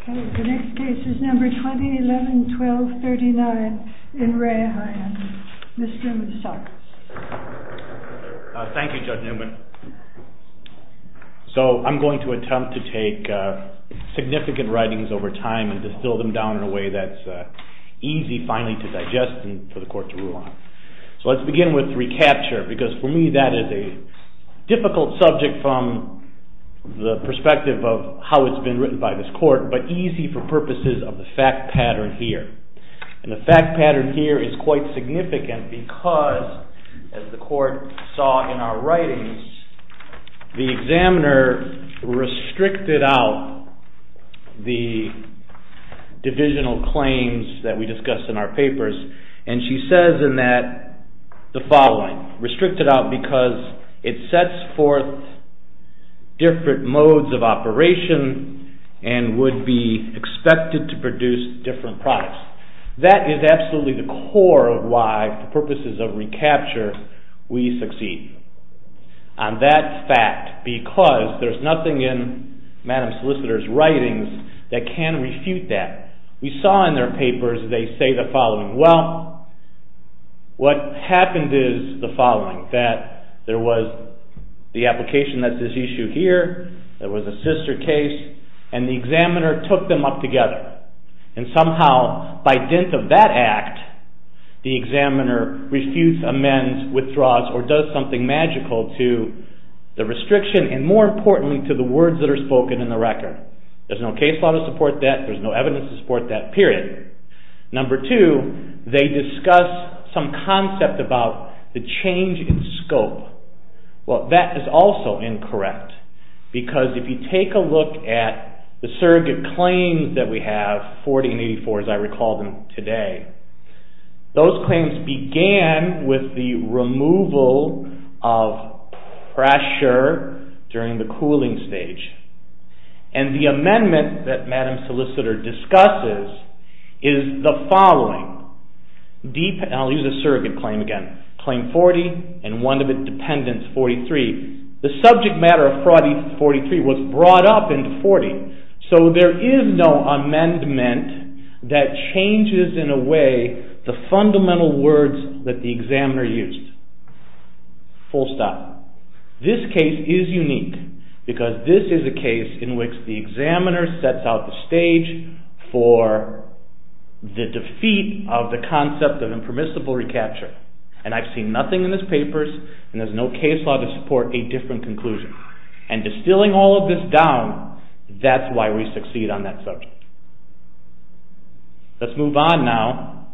Okay, the next case is number 2011-12-39 in RE HYON. Mr. Newman, start. Thank you, Judge Newman. So, I'm going to attempt to take significant writings over time and distill them down in a way that's easy finally to digest and for the court to rule on. So, let's begin with recapture because for me that is a difficult subject from the perspective of how it's been written by this court, but easy for purposes of the fact pattern here. And the fact pattern here is quite significant because, as the court saw in our writings, the examiner restricted out the divisional claims that we discussed in our papers. And she says in that the following, restricted out because it sets forth different modes of operation and would be expected to produce different products. That is absolutely the core of why, for purposes of recapture, we succeed on that fact because there's nothing in Madam Solicitor's writings that can refute that. We saw in their papers they say the following, well, what happened is the following, that there was the application that's at issue here, there was a sister case, and the examiner took them up together. And somehow, by dint of that act, the examiner refutes, amends, withdraws, or does something magical to the restriction and, more importantly, to the words that are spoken in the record. There's no case law to support that, there's no evidence to support that, period. Number two, they discuss some concept about the change in scope. Well, that is also incorrect because if you take a look at the surrogate claims that we have, 40 and 84, as I recall them today, those claims began with the removal of pressure during the cooling stage. And the amendment that Madam Solicitor discusses is the following, and I'll use the surrogate claim again, claim 40 and one of its dependents, 43, the subject matter of 43 was brought up into 40. So there is no amendment that changes in a way the fundamental words that the examiner used. Full stop. This case is unique because this is a case in which the examiner sets out the stage for the defeat of the concept of impermissible recapture. And I've seen nothing in this papers, and there's no case law to support a different conclusion. And distilling all of this down, that's why we succeed on that subject. Let's move on now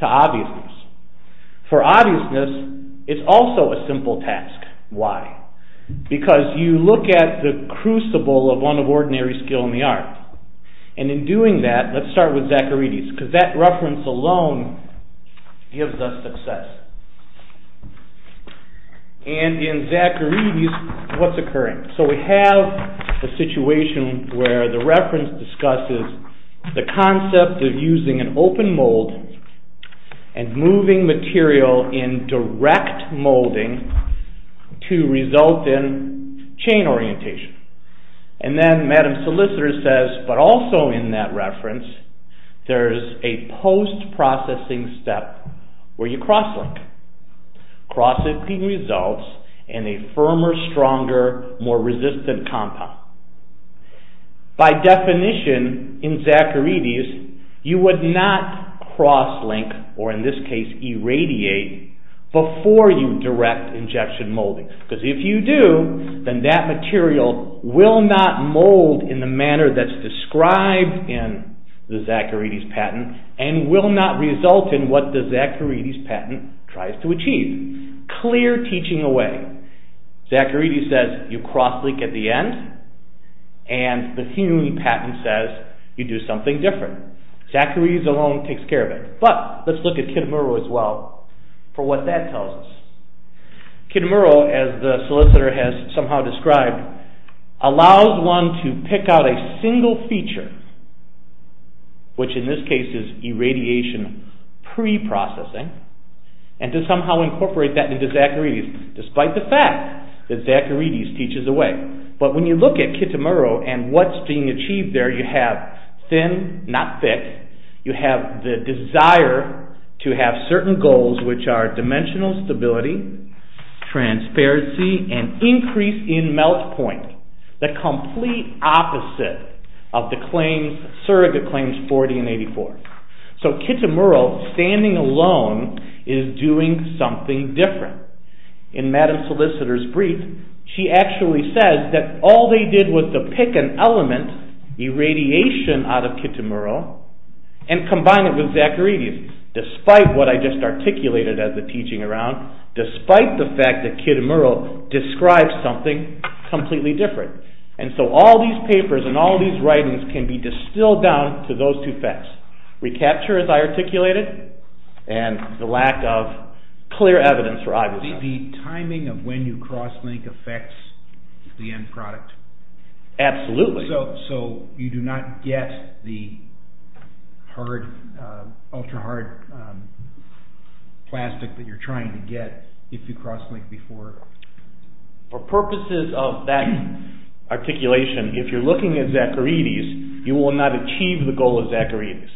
to obviousness. For obviousness, it's also a simple task. Why? Because you look at the crucible of one of ordinary skill in the art. And in doing that, let's start with Zacharides, because that reference alone gives us success. And in Zacharides, what's occurring? So we have a situation where the reference discusses the concept of using an open mold and moving material in direct molding to result in chain orientation. And then Madam Solicitor says, but also in that reference, there's a post-processing step where you cross-link. Cross-linking results in a firmer, stronger, more resistant compound. By definition, in Zacharides, you would not cross-link, or in this case irradiate, before you direct injection molding. Because if you do, then that material will not mold in the manner that's described in the Zacharides patent, and will not result in what the Zacharides patent tries to achieve. Clear teaching away. Zacharides says you cross-link at the end, and the Hume patent says you do something different. Zacharides alone takes care of it. But, let's look at Kitamura as well, for what that tells us. Kitamura, as the solicitor has somehow described, allows one to pick out a single feature, which in this case is irradiation pre-processing, and to somehow incorporate that into Zacharides, despite the fact that Zacharides teaches away. But when you look at Kitamura, and what's being achieved there, you have thin, not thick, you have the desire to have certain goals, which are dimensional stability, transparency, and increase in melt point. The complete opposite of the claims, surrogate claims, 40 and 84. So Kitamura, standing alone, is doing something different. In Madame Solicitor's brief, she actually says that all they did was to pick an element, irradiation out of Kitamura, and combine it with Zacharides, despite what I just articulated as the teaching around, despite the fact that Kitamura describes something completely different. And so all these papers and all these writings can be distilled down to those two facts. Recapture, as I articulated, and the lack of clear evidence for either side. The timing of when you cross-link affects the end product. Absolutely. So you do not get the ultra-hard plastic that you're trying to get if you cross-link before. For purposes of that articulation, if you're looking at Zacharides, you will not achieve the goal of Zacharides.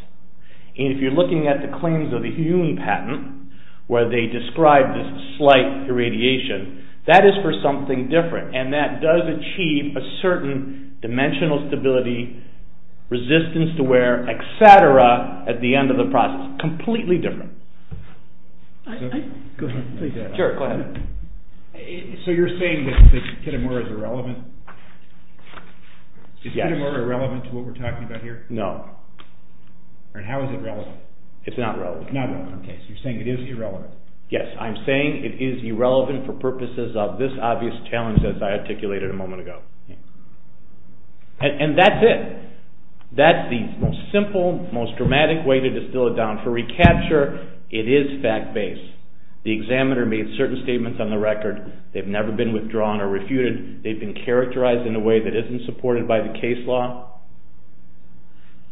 And if you're looking at the claims of the Huon patent, where they describe this slight irradiation, that is for something different. And that does achieve a certain dimensional stability, resistance to wear, et cetera, at the end of the process. Completely different. Go ahead. Sure, go ahead. So you're saying that Kitamura is irrelevant? Yes. Is Kitamura irrelevant to what we're talking about here? No. And how is it relevant? It's not relevant. Not relevant. Okay, so you're saying it is irrelevant. Yes, I'm saying it is irrelevant for purposes of this obvious challenge as I articulated a moment ago. And that's it. That's the most simple, most dramatic way to distill it down. For recapture, it is fact-based. The examiner made certain statements on the record. They've never been withdrawn or refuted. They've been characterized in a way that isn't supported by the case law.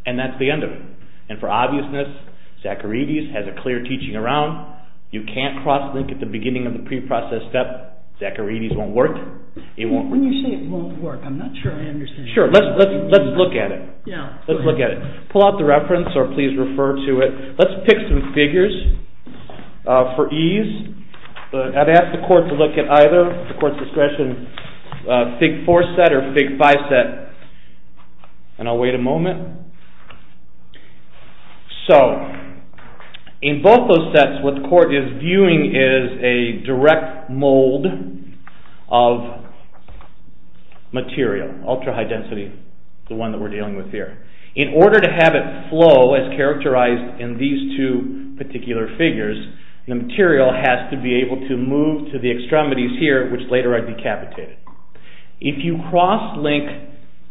And that's the end of it. And for obviousness, Zacharides has a clear teaching around. You can't cross-link at the beginning of the preprocessed step. Zacharides won't work. When you say it won't work, I'm not sure I understand. Sure, let's look at it. Let's look at it. Pull out the reference or please refer to it. Let's pick some figures for ease. I've asked the court to look at either, at the court's discretion, Fig. 4 set or Fig. 5 set. And I'll wait a moment. So, in both those sets, what the court is viewing is a direct mold of material. Ultra-high density, the one that we're dealing with here. In order to have it flow as characterized in these two particular figures, the material has to be able to move to the extremities here, which later I decapitated. If you cross-link,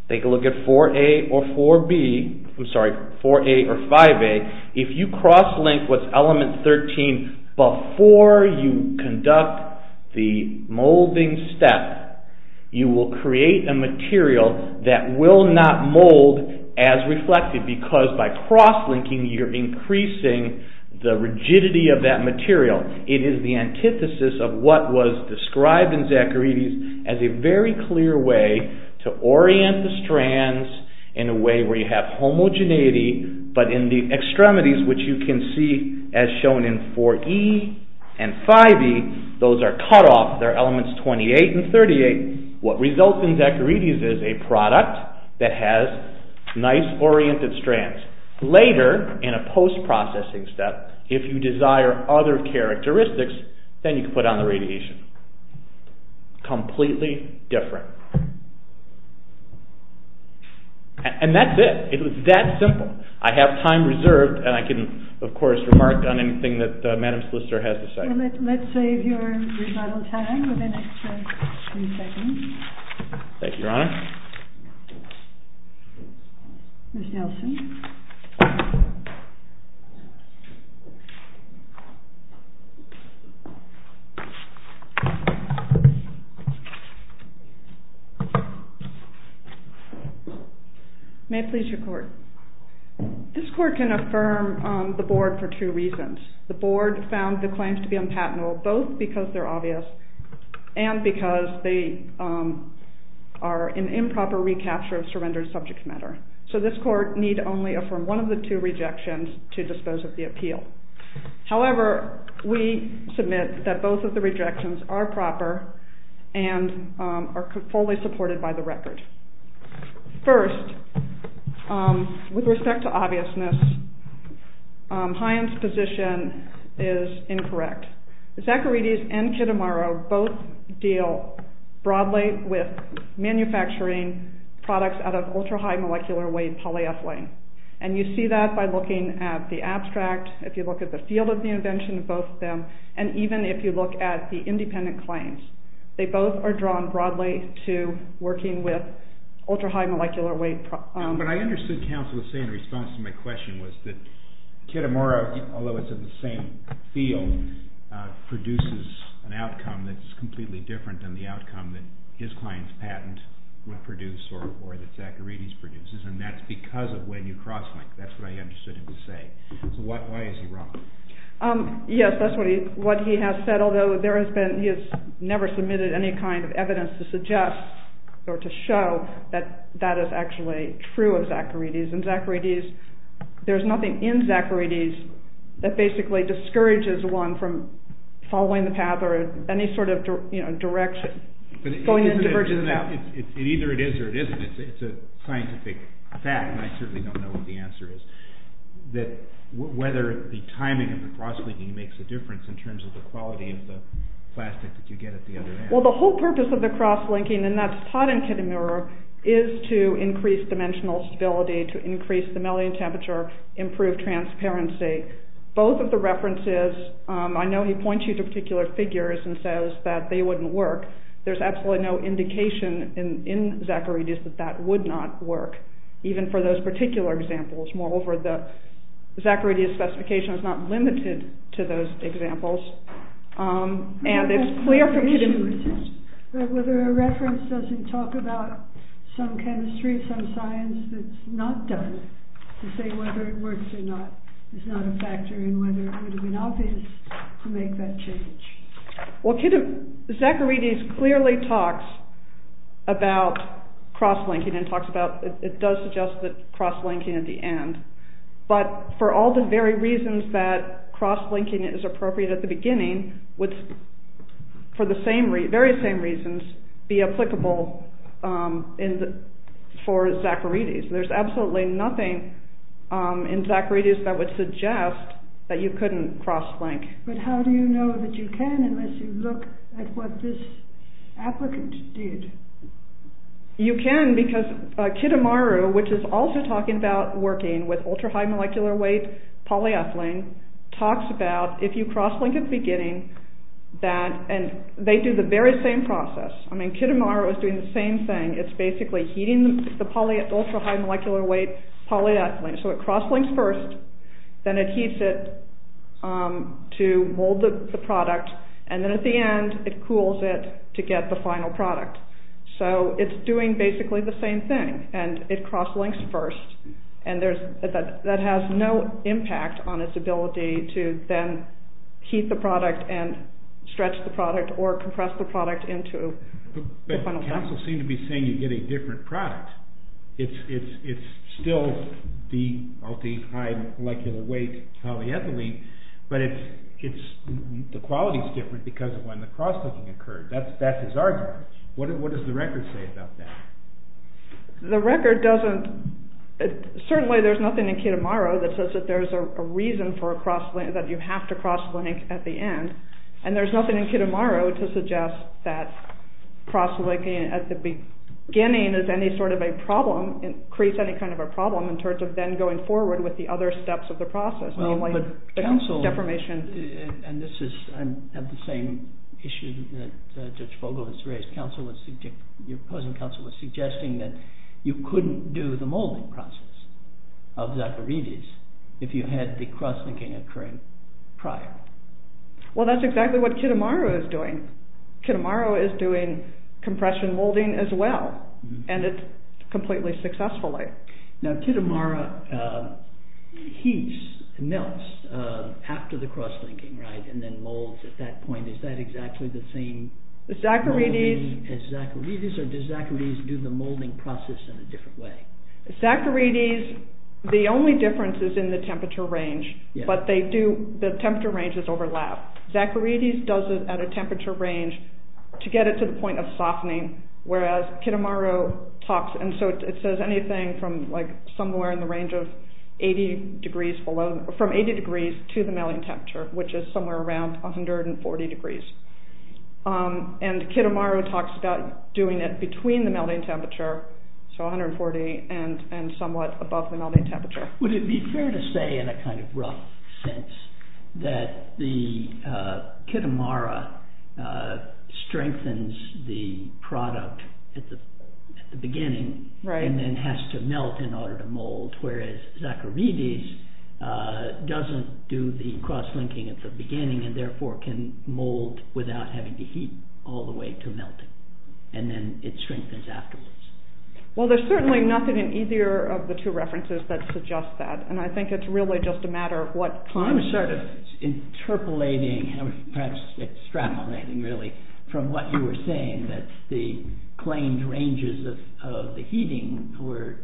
take a look at 4A or 4B, I'm sorry, 4A or 5A, if you cross-link what's Element 13 before you conduct the molding step, you will create a material that will not mold as reflected because by cross-linking, you're increasing the rigidity of that material. It is the antithesis of what was described in Zacharides as a very clear way to orient the strands in a way where you have homogeneity, but in the extremities, which you can see as shown in 4E and 5E, those are cut off, they're Elements 28 and 38. What results in Zacharides is a product that has nice oriented strands. Later, in a post-processing step, if you desire other characteristics, then you can put on the radiation. Completely different. And that's it. It's that simple. I have time reserved and I can, of course, remark on anything that Madam Solicitor has to say. Let's save your rebuttal time with an extra few seconds. Thank you, Your Honor. Ms. Nelson. May it please your Court. This Court can affirm the Board for two reasons. The Board found the claims to be unpatentable, both because they're obvious and because they are an improper recapture of surrendered subject matter. So this Court need only affirm one of the two rejections to dispose of the appeal. However, we submit that both of the rejections are proper and are fully supported by the record. First, with respect to obviousness, Hyen's position is incorrect. Zacharides and Kitamaro both deal broadly with manufacturing products out of ultra-high molecular weight polyethylene. And you see that by looking at the abstract, if you look at the field of the invention of both of them, and even if you look at the independent claims. They both are drawn broadly to working with ultra-high molecular weight. What I understood counsel was saying in response to my question was that Kitamaro, although it's in the same field, produces an outcome that's completely different than the outcome that his client's patent would produce or that Zacharides produces. And that's because of when you cross-link. That's what I understood him to say. So why is he wrong? Yes, that's what he has said. Although he has never submitted any kind of evidence to suggest or to show that that is actually true of Zacharides. And Zacharides, there's nothing in Zacharides that basically discourages one from following the path or any sort of direction. Going in diverges out. Either it is or it isn't. It's a scientific fact, and I certainly don't know what the answer is. That whether the timing of the cross-linking makes a difference Well, the whole purpose of the cross-linking, and that's taught in Kitamaro, is to increase dimensional stability, to increase the melting temperature, improve transparency. Both of the references, I know he points you to particular figures and says that they wouldn't work. There's absolutely no indication in Zacharides that that would not work, even for those particular examples. Moreover, the Zacharides specification is not limited to those examples. Whether a reference doesn't talk about some chemistry, some science that's not done, to say whether it works or not, is not a factor, and whether it would have been obvious to make that change. Well, Zacharides clearly talks about cross-linking, and it does suggest that cross-linking at the end. But for all the very reasons that cross-linking is appropriate at the beginning, would, for the very same reasons, be applicable for Zacharides. There's absolutely nothing in Zacharides that would suggest that you couldn't cross-link. But how do you know that you can unless you look at what this applicant did? You can because Kitamaru, which is also talking about working with ultra-high molecular weight polyethylene, talks about if you cross-link at the beginning, and they do the very same process. I mean, Kitamaru is doing the same thing. It's basically heating the ultra-high molecular weight polyethylene. So it cross-links first, then it heats it to mold the product, and then at the end it cools it to get the final product. So it's doing basically the same thing, and it cross-links first, and that has no impact on its ability to then heat the product and stretch the product or compress the product into the final product. But you also seem to be saying you get a different product. It's still the ultra-high molecular weight polyethylene, but the quality is different because of when the cross-linking occurred. That's his argument. What does the record say about that? The record doesn't. Certainly there's nothing in Kitamaru that says that there's a reason for a cross-link, that you have to cross-link at the end, and there's nothing in Kitamaru to suggest that cross-linking at the beginning is any sort of a problem, creates any kind of a problem, in terms of then going forward with the other steps of the process, namely deformation. And this is the same issue that Judge Vogel has raised. Your opposing counsel was suggesting that you couldn't do the molding process of Zacharides if you had the cross-linking occurring prior. Well, that's exactly what Kitamaru is doing. Kitamaru is doing compression molding as well, and it's completely successfully. Now, Kitamaru heats, melts, after the cross-linking, right, and then molds at that point. Is that exactly the same molding as Zacharides, or does Zacharides do the molding process in a different way? Zacharides, the only difference is in the temperature range, but the temperature ranges overlap. Zacharides does it at a temperature range to get it to the point of softening, whereas Kitamaru talks, and so it says anything from somewhere in the range of 80 degrees below, from 80 degrees to the melting temperature, which is somewhere around 140 degrees. And Kitamaru talks about doing it between the melting temperature, so 140, and somewhat above the melting temperature. Would it be fair to say, in a kind of rough sense, that the Kitamaru strengthens the product at the beginning, and then has to melt in order to mold, whereas Zacharides doesn't do the cross-linking at the beginning, and therefore can mold without having to heat all the way to melt it, and then it strengthens afterwards? Well, there's certainly nothing in either of the two references that suggests that, and I think it's really just a matter of what kind of... I'm sort of interpolating, perhaps extrapolating really, from what you were saying, that the claimed ranges of the heating were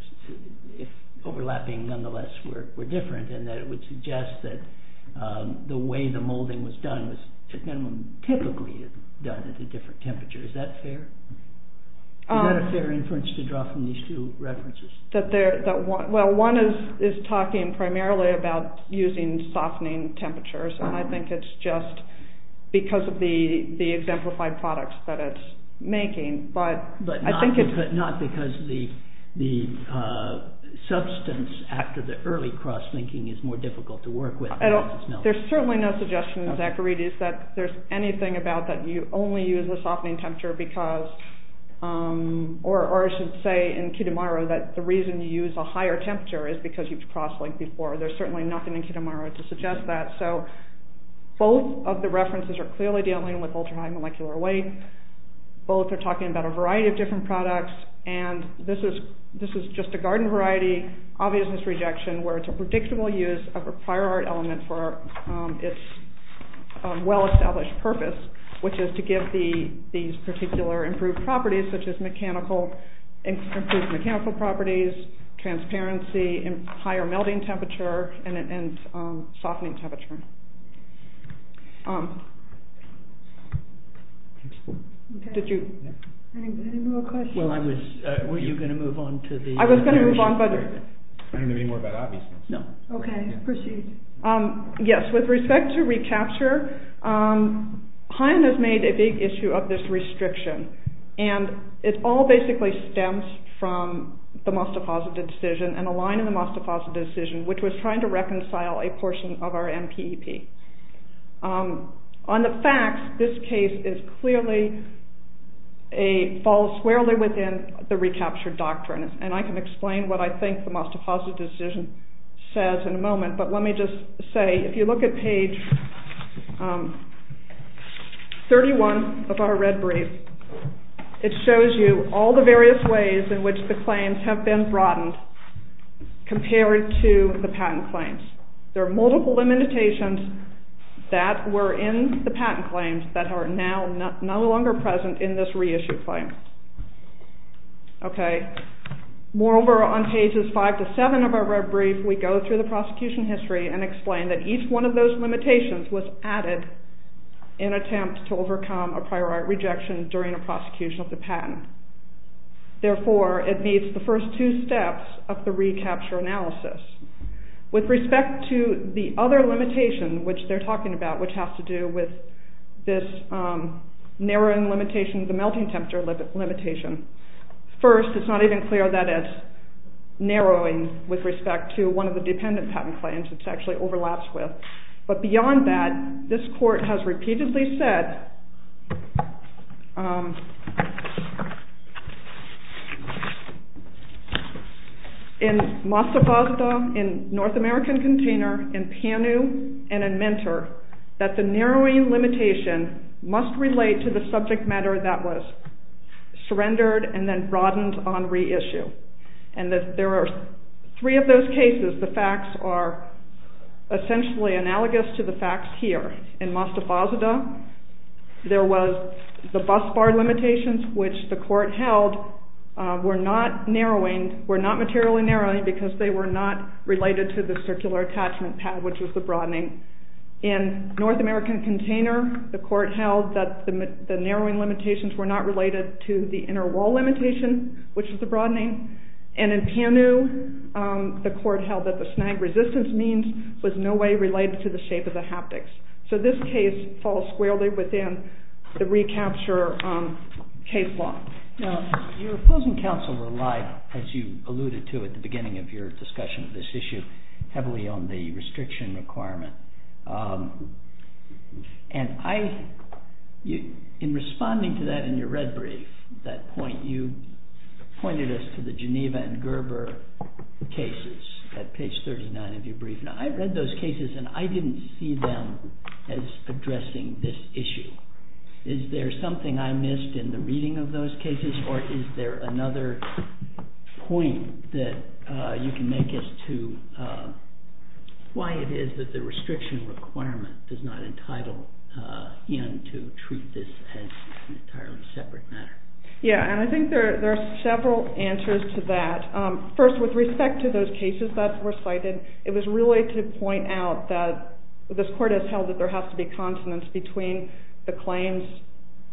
overlapping nonetheless were different, and that it would suggest that the way the molding was done was at minimum typically done at a different temperature. Is that fair? Is that a fair inference to draw from these two references? Well, one is talking primarily about using softening temperatures, and I think it's just because of the exemplified products that it's making. But not because the substance after the early cross-linking is more difficult to work with. There's certainly no suggestion in Zacharides that there's anything about that you only use a softening temperature because... the reason you use a higher temperature is because you've crossed-linked before. There's certainly nothing in Kitamaro to suggest that. So both of the references are clearly dealing with ultra-high molecular weight. Both are talking about a variety of different products, and this is just a garden variety, obvious misrejection, where it's a predictable use of a prior art element for its well-established purpose, which is to give these particular improved properties, such as improved mechanical properties, transparency, higher melting temperature, and softening temperature. Any more questions? Weren't you going to move on to the... I was going to move on, but... I don't know any more about obviousness. Okay, proceed. Yes, with respect to ReCAPTCHER, Haim has made a big issue of this restriction, and it all basically stems from the Mostafazadeh decision and a line in the Mostafazadeh decision which was trying to reconcile a portion of our MPEP. On the facts, this case is clearly... falls squarely within the ReCAPTCHER doctrine, and I can explain what I think the Mostafazadeh decision says in a moment, but let me just say, if you look at page 31 of our red brief, it shows you all the various ways in which the claims have been broadened compared to the patent claims. There are multiple limitations that were in the patent claims that are now no longer present in this reissued claim. In this brief, we go through the prosecution history and explain that each one of those limitations was added in attempt to overcome a prior art rejection during a prosecution of the patent. Therefore, it meets the first two steps of the ReCAPTCHER analysis. With respect to the other limitation which they're talking about, which has to do with this narrowing limitation, the melting temperature limitation, first, it's not even clear that it's narrowing with respect to one of the dependent patent claims, which actually overlaps with. But beyond that, this court has repeatedly said in Mostafazadeh, in North American Container, in PANU, and in Mentor, that the narrowing limitation must relate to the subject matter that was surrendered and then broadened on reissue. And there are three of those cases. The facts are essentially analogous to the facts here. In Mostafazadeh, there was the bus bar limitations, which the court held were not narrowing, were not materially narrowing because they were not related to the circular attachment pad, which was the broadening. In North American Container, the court held that the narrowing limitations were not related to the inner wall limitation, which was the broadening. And in PANU, the court held that the snag resistance means was in no way related to the shape of the haptics. So this case falls squarely within the recapture case law. Your opposing counsel relied, as you alluded to at the beginning of your discussion of this issue, heavily on the restriction requirement. And in responding to that in your red brief, that point you pointed us to the Geneva and Gerber cases at page 39 of your brief. Now, I read those cases and I didn't see them as addressing this issue. Is there something I missed in the reading of those cases or is there another point that you can make as to why it is that the restriction requirement does not entitle in to treat this as an entirely separate matter? Yeah, and I think there are several answers to that. First, with respect to those cases that were cited, it was really to point out that this court has held that there has to be consonance between the claims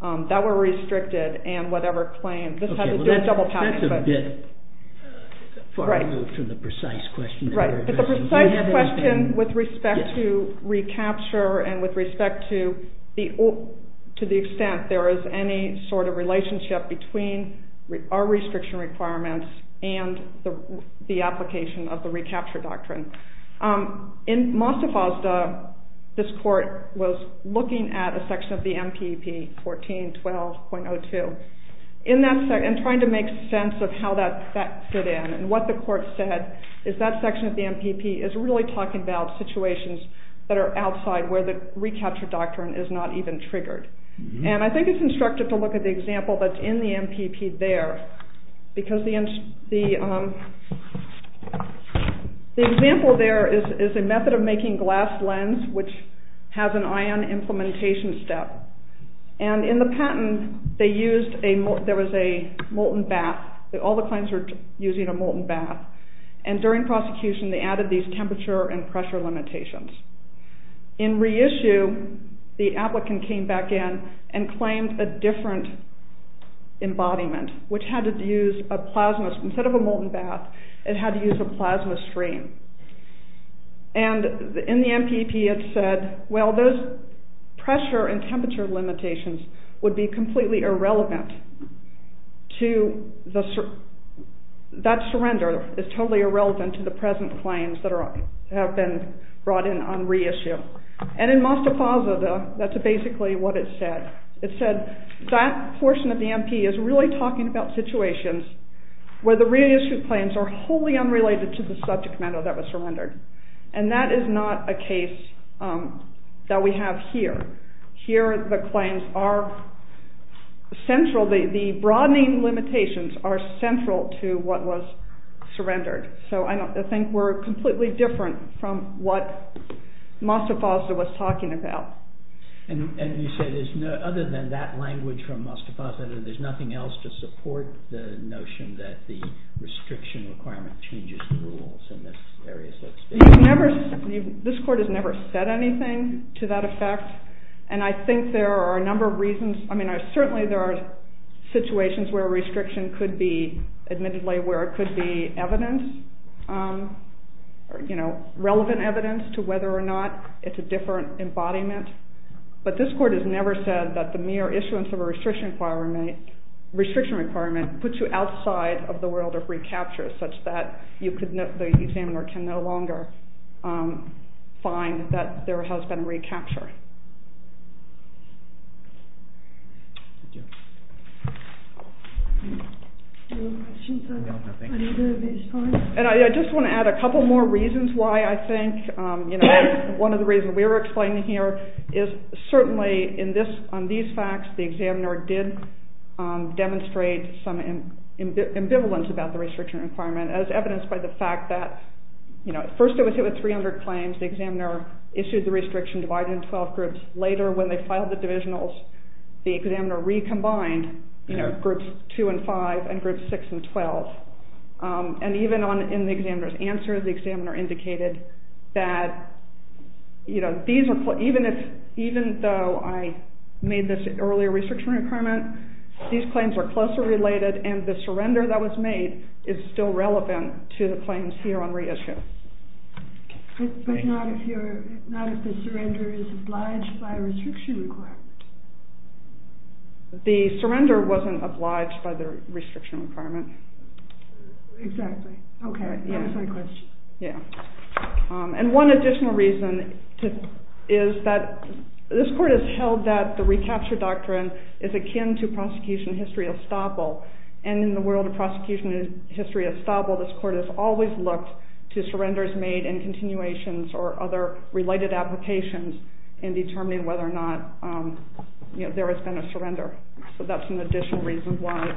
that were restricted and whatever claims. Okay, well that's a bit far removed from the precise question Right, but the precise question with respect to recapture and with respect to the extent there is any sort of relationship between our restriction requirements and the application of the recapture doctrine. In Mostafazda, this court was looking at a section of the MPP 14.12.02 and trying to make sense of how that fit in. And what the court said is that section of the MPP is really talking about situations that are outside where the recapture doctrine is not even triggered. And I think it's instructive to look at the example that's in the MPP there. Because the example there is a method of making glass lens which has an ion implementation step. And in the patent, there was a molten bath. All the claims were using a molten bath. And during prosecution, they added these temperature and pressure limitations. In reissue, the applicant came back in and claimed a different embodiment which had to use a plasma, instead of a molten bath, it had to use a plasma stream. would be completely irrelevant to that surrender. It's totally irrelevant to the present claims that have been brought in on reissue. And in Mostafazda, that's basically what it said. It said that portion of the MP is really talking about situations where the reissued claims are wholly unrelated to the subject matter that was surrendered. And that is not a case that we have here. Here, the claims are central. The broadening limitations are central to what was surrendered. So I think we're completely different from what Mostafazda was talking about. And you said other than that language from Mostafazda, there's nothing else to support the notion that the restriction requirement changes the rules in this area? This court has never said anything to that effect. And I think there are a number of reasons. Certainly there are situations where a restriction could be evidence, relevant evidence, to whether or not it's a different embodiment. But this court has never said that the mere issuance of a restriction requirement puts you outside of the world of recapture, such that the examiner can no longer find that there has been recapture. I just want to add a couple more reasons why I think. One of the reasons we're explaining here is certainly on these facts, the examiner did demonstrate some ambivalence about the restriction requirement as evidenced by the fact that at first it was hit with 300 claims. The examiner issued the restriction divided into 12 groups. Later, when they filed the divisionals, the examiner recombined groups 2 and 5 and groups 6 and 12. And even in the examiner's answer, the examiner indicated that even though I made this earlier restriction requirement, these claims were closely related and the surrender that was made is still relevant to the claims here on reissue. But not if the surrender is obliged by a restriction requirement. The surrender wasn't obliged by the restriction requirement. Exactly. OK, that's my question. And one additional reason is that this court has held that the recapture doctrine is And in the world of prosecution and history of establishment, this court has always looked to surrenders made in continuations or other related applications in determining whether or not there has been a surrender. So that's an additional reason why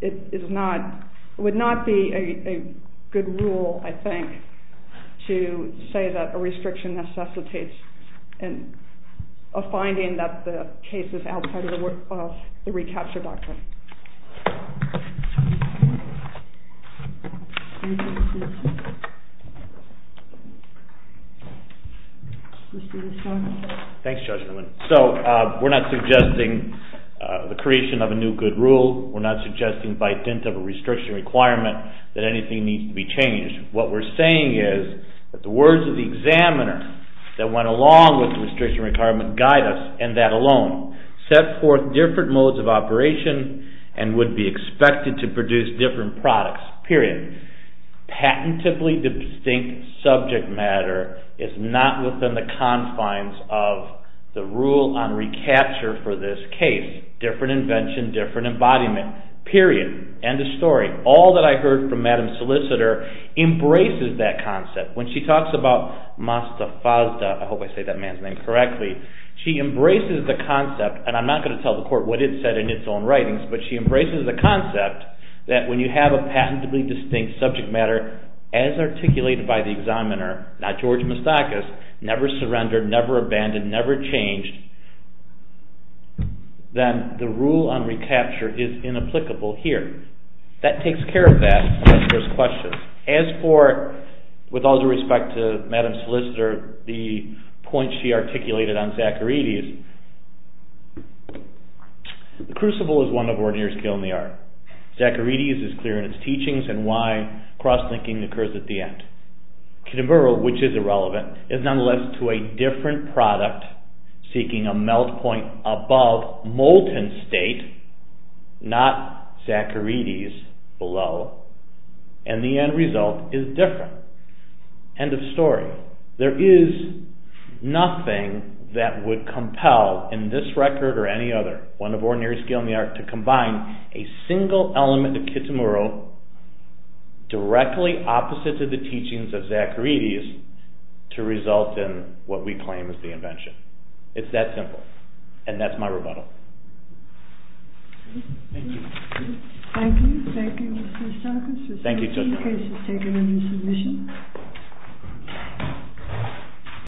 it would not be a good rule, I think, to say that a restriction necessitates a finding that the case is outside of the recapture doctrine. Thanks, Judge Newman. So we're not suggesting the creation of a new good rule. We're not suggesting by dint of a restriction requirement that anything needs to be changed. What we're saying is that the words of the examiner that went along with the restriction requirement guide us in that alone. Set forth different modes of operation and would be expected to produce different products, period. Patentably distinct subject matter is not within the confines of the rule on recapture for this case. Different invention, different embodiment, period. End of story. All that I heard from Madam Solicitor embraces that concept. When she talks about Mastafazda, I hope I say that man's name correctly, she embraces the concept, and I'm not going to tell the court what it said in its own writings, but she embraces the concept that when you have a patentably distinct subject matter as articulated by the examiner, not George Moustakis, never surrendered, never abandoned, never changed, then the rule on recapture is inapplicable here. That takes care of that, as far as questions. As for, with all due respect to Madam Solicitor, the point she articulated on Zacharides, the crucible is one of ordinary skill in the art. Zacharides is clear in its teachings and why cross-linking occurs at the end. Khitomberu, which is irrelevant, is nonetheless to a different product seeking a melt point above molten state, not Zacharides below. And the end result is different. End of story. There is nothing that would compel, in this record or any other, one of ordinary skill in the art, to combine a single element of Khitomberu directly opposite to the teachings of Zacharides to result in what we claim is the invention. It's that simple. And that's my rebuttal. Thank you. Thank you. Thank you. Thank you, Mr. Sarkis. Thank you. In case you've taken any submissions.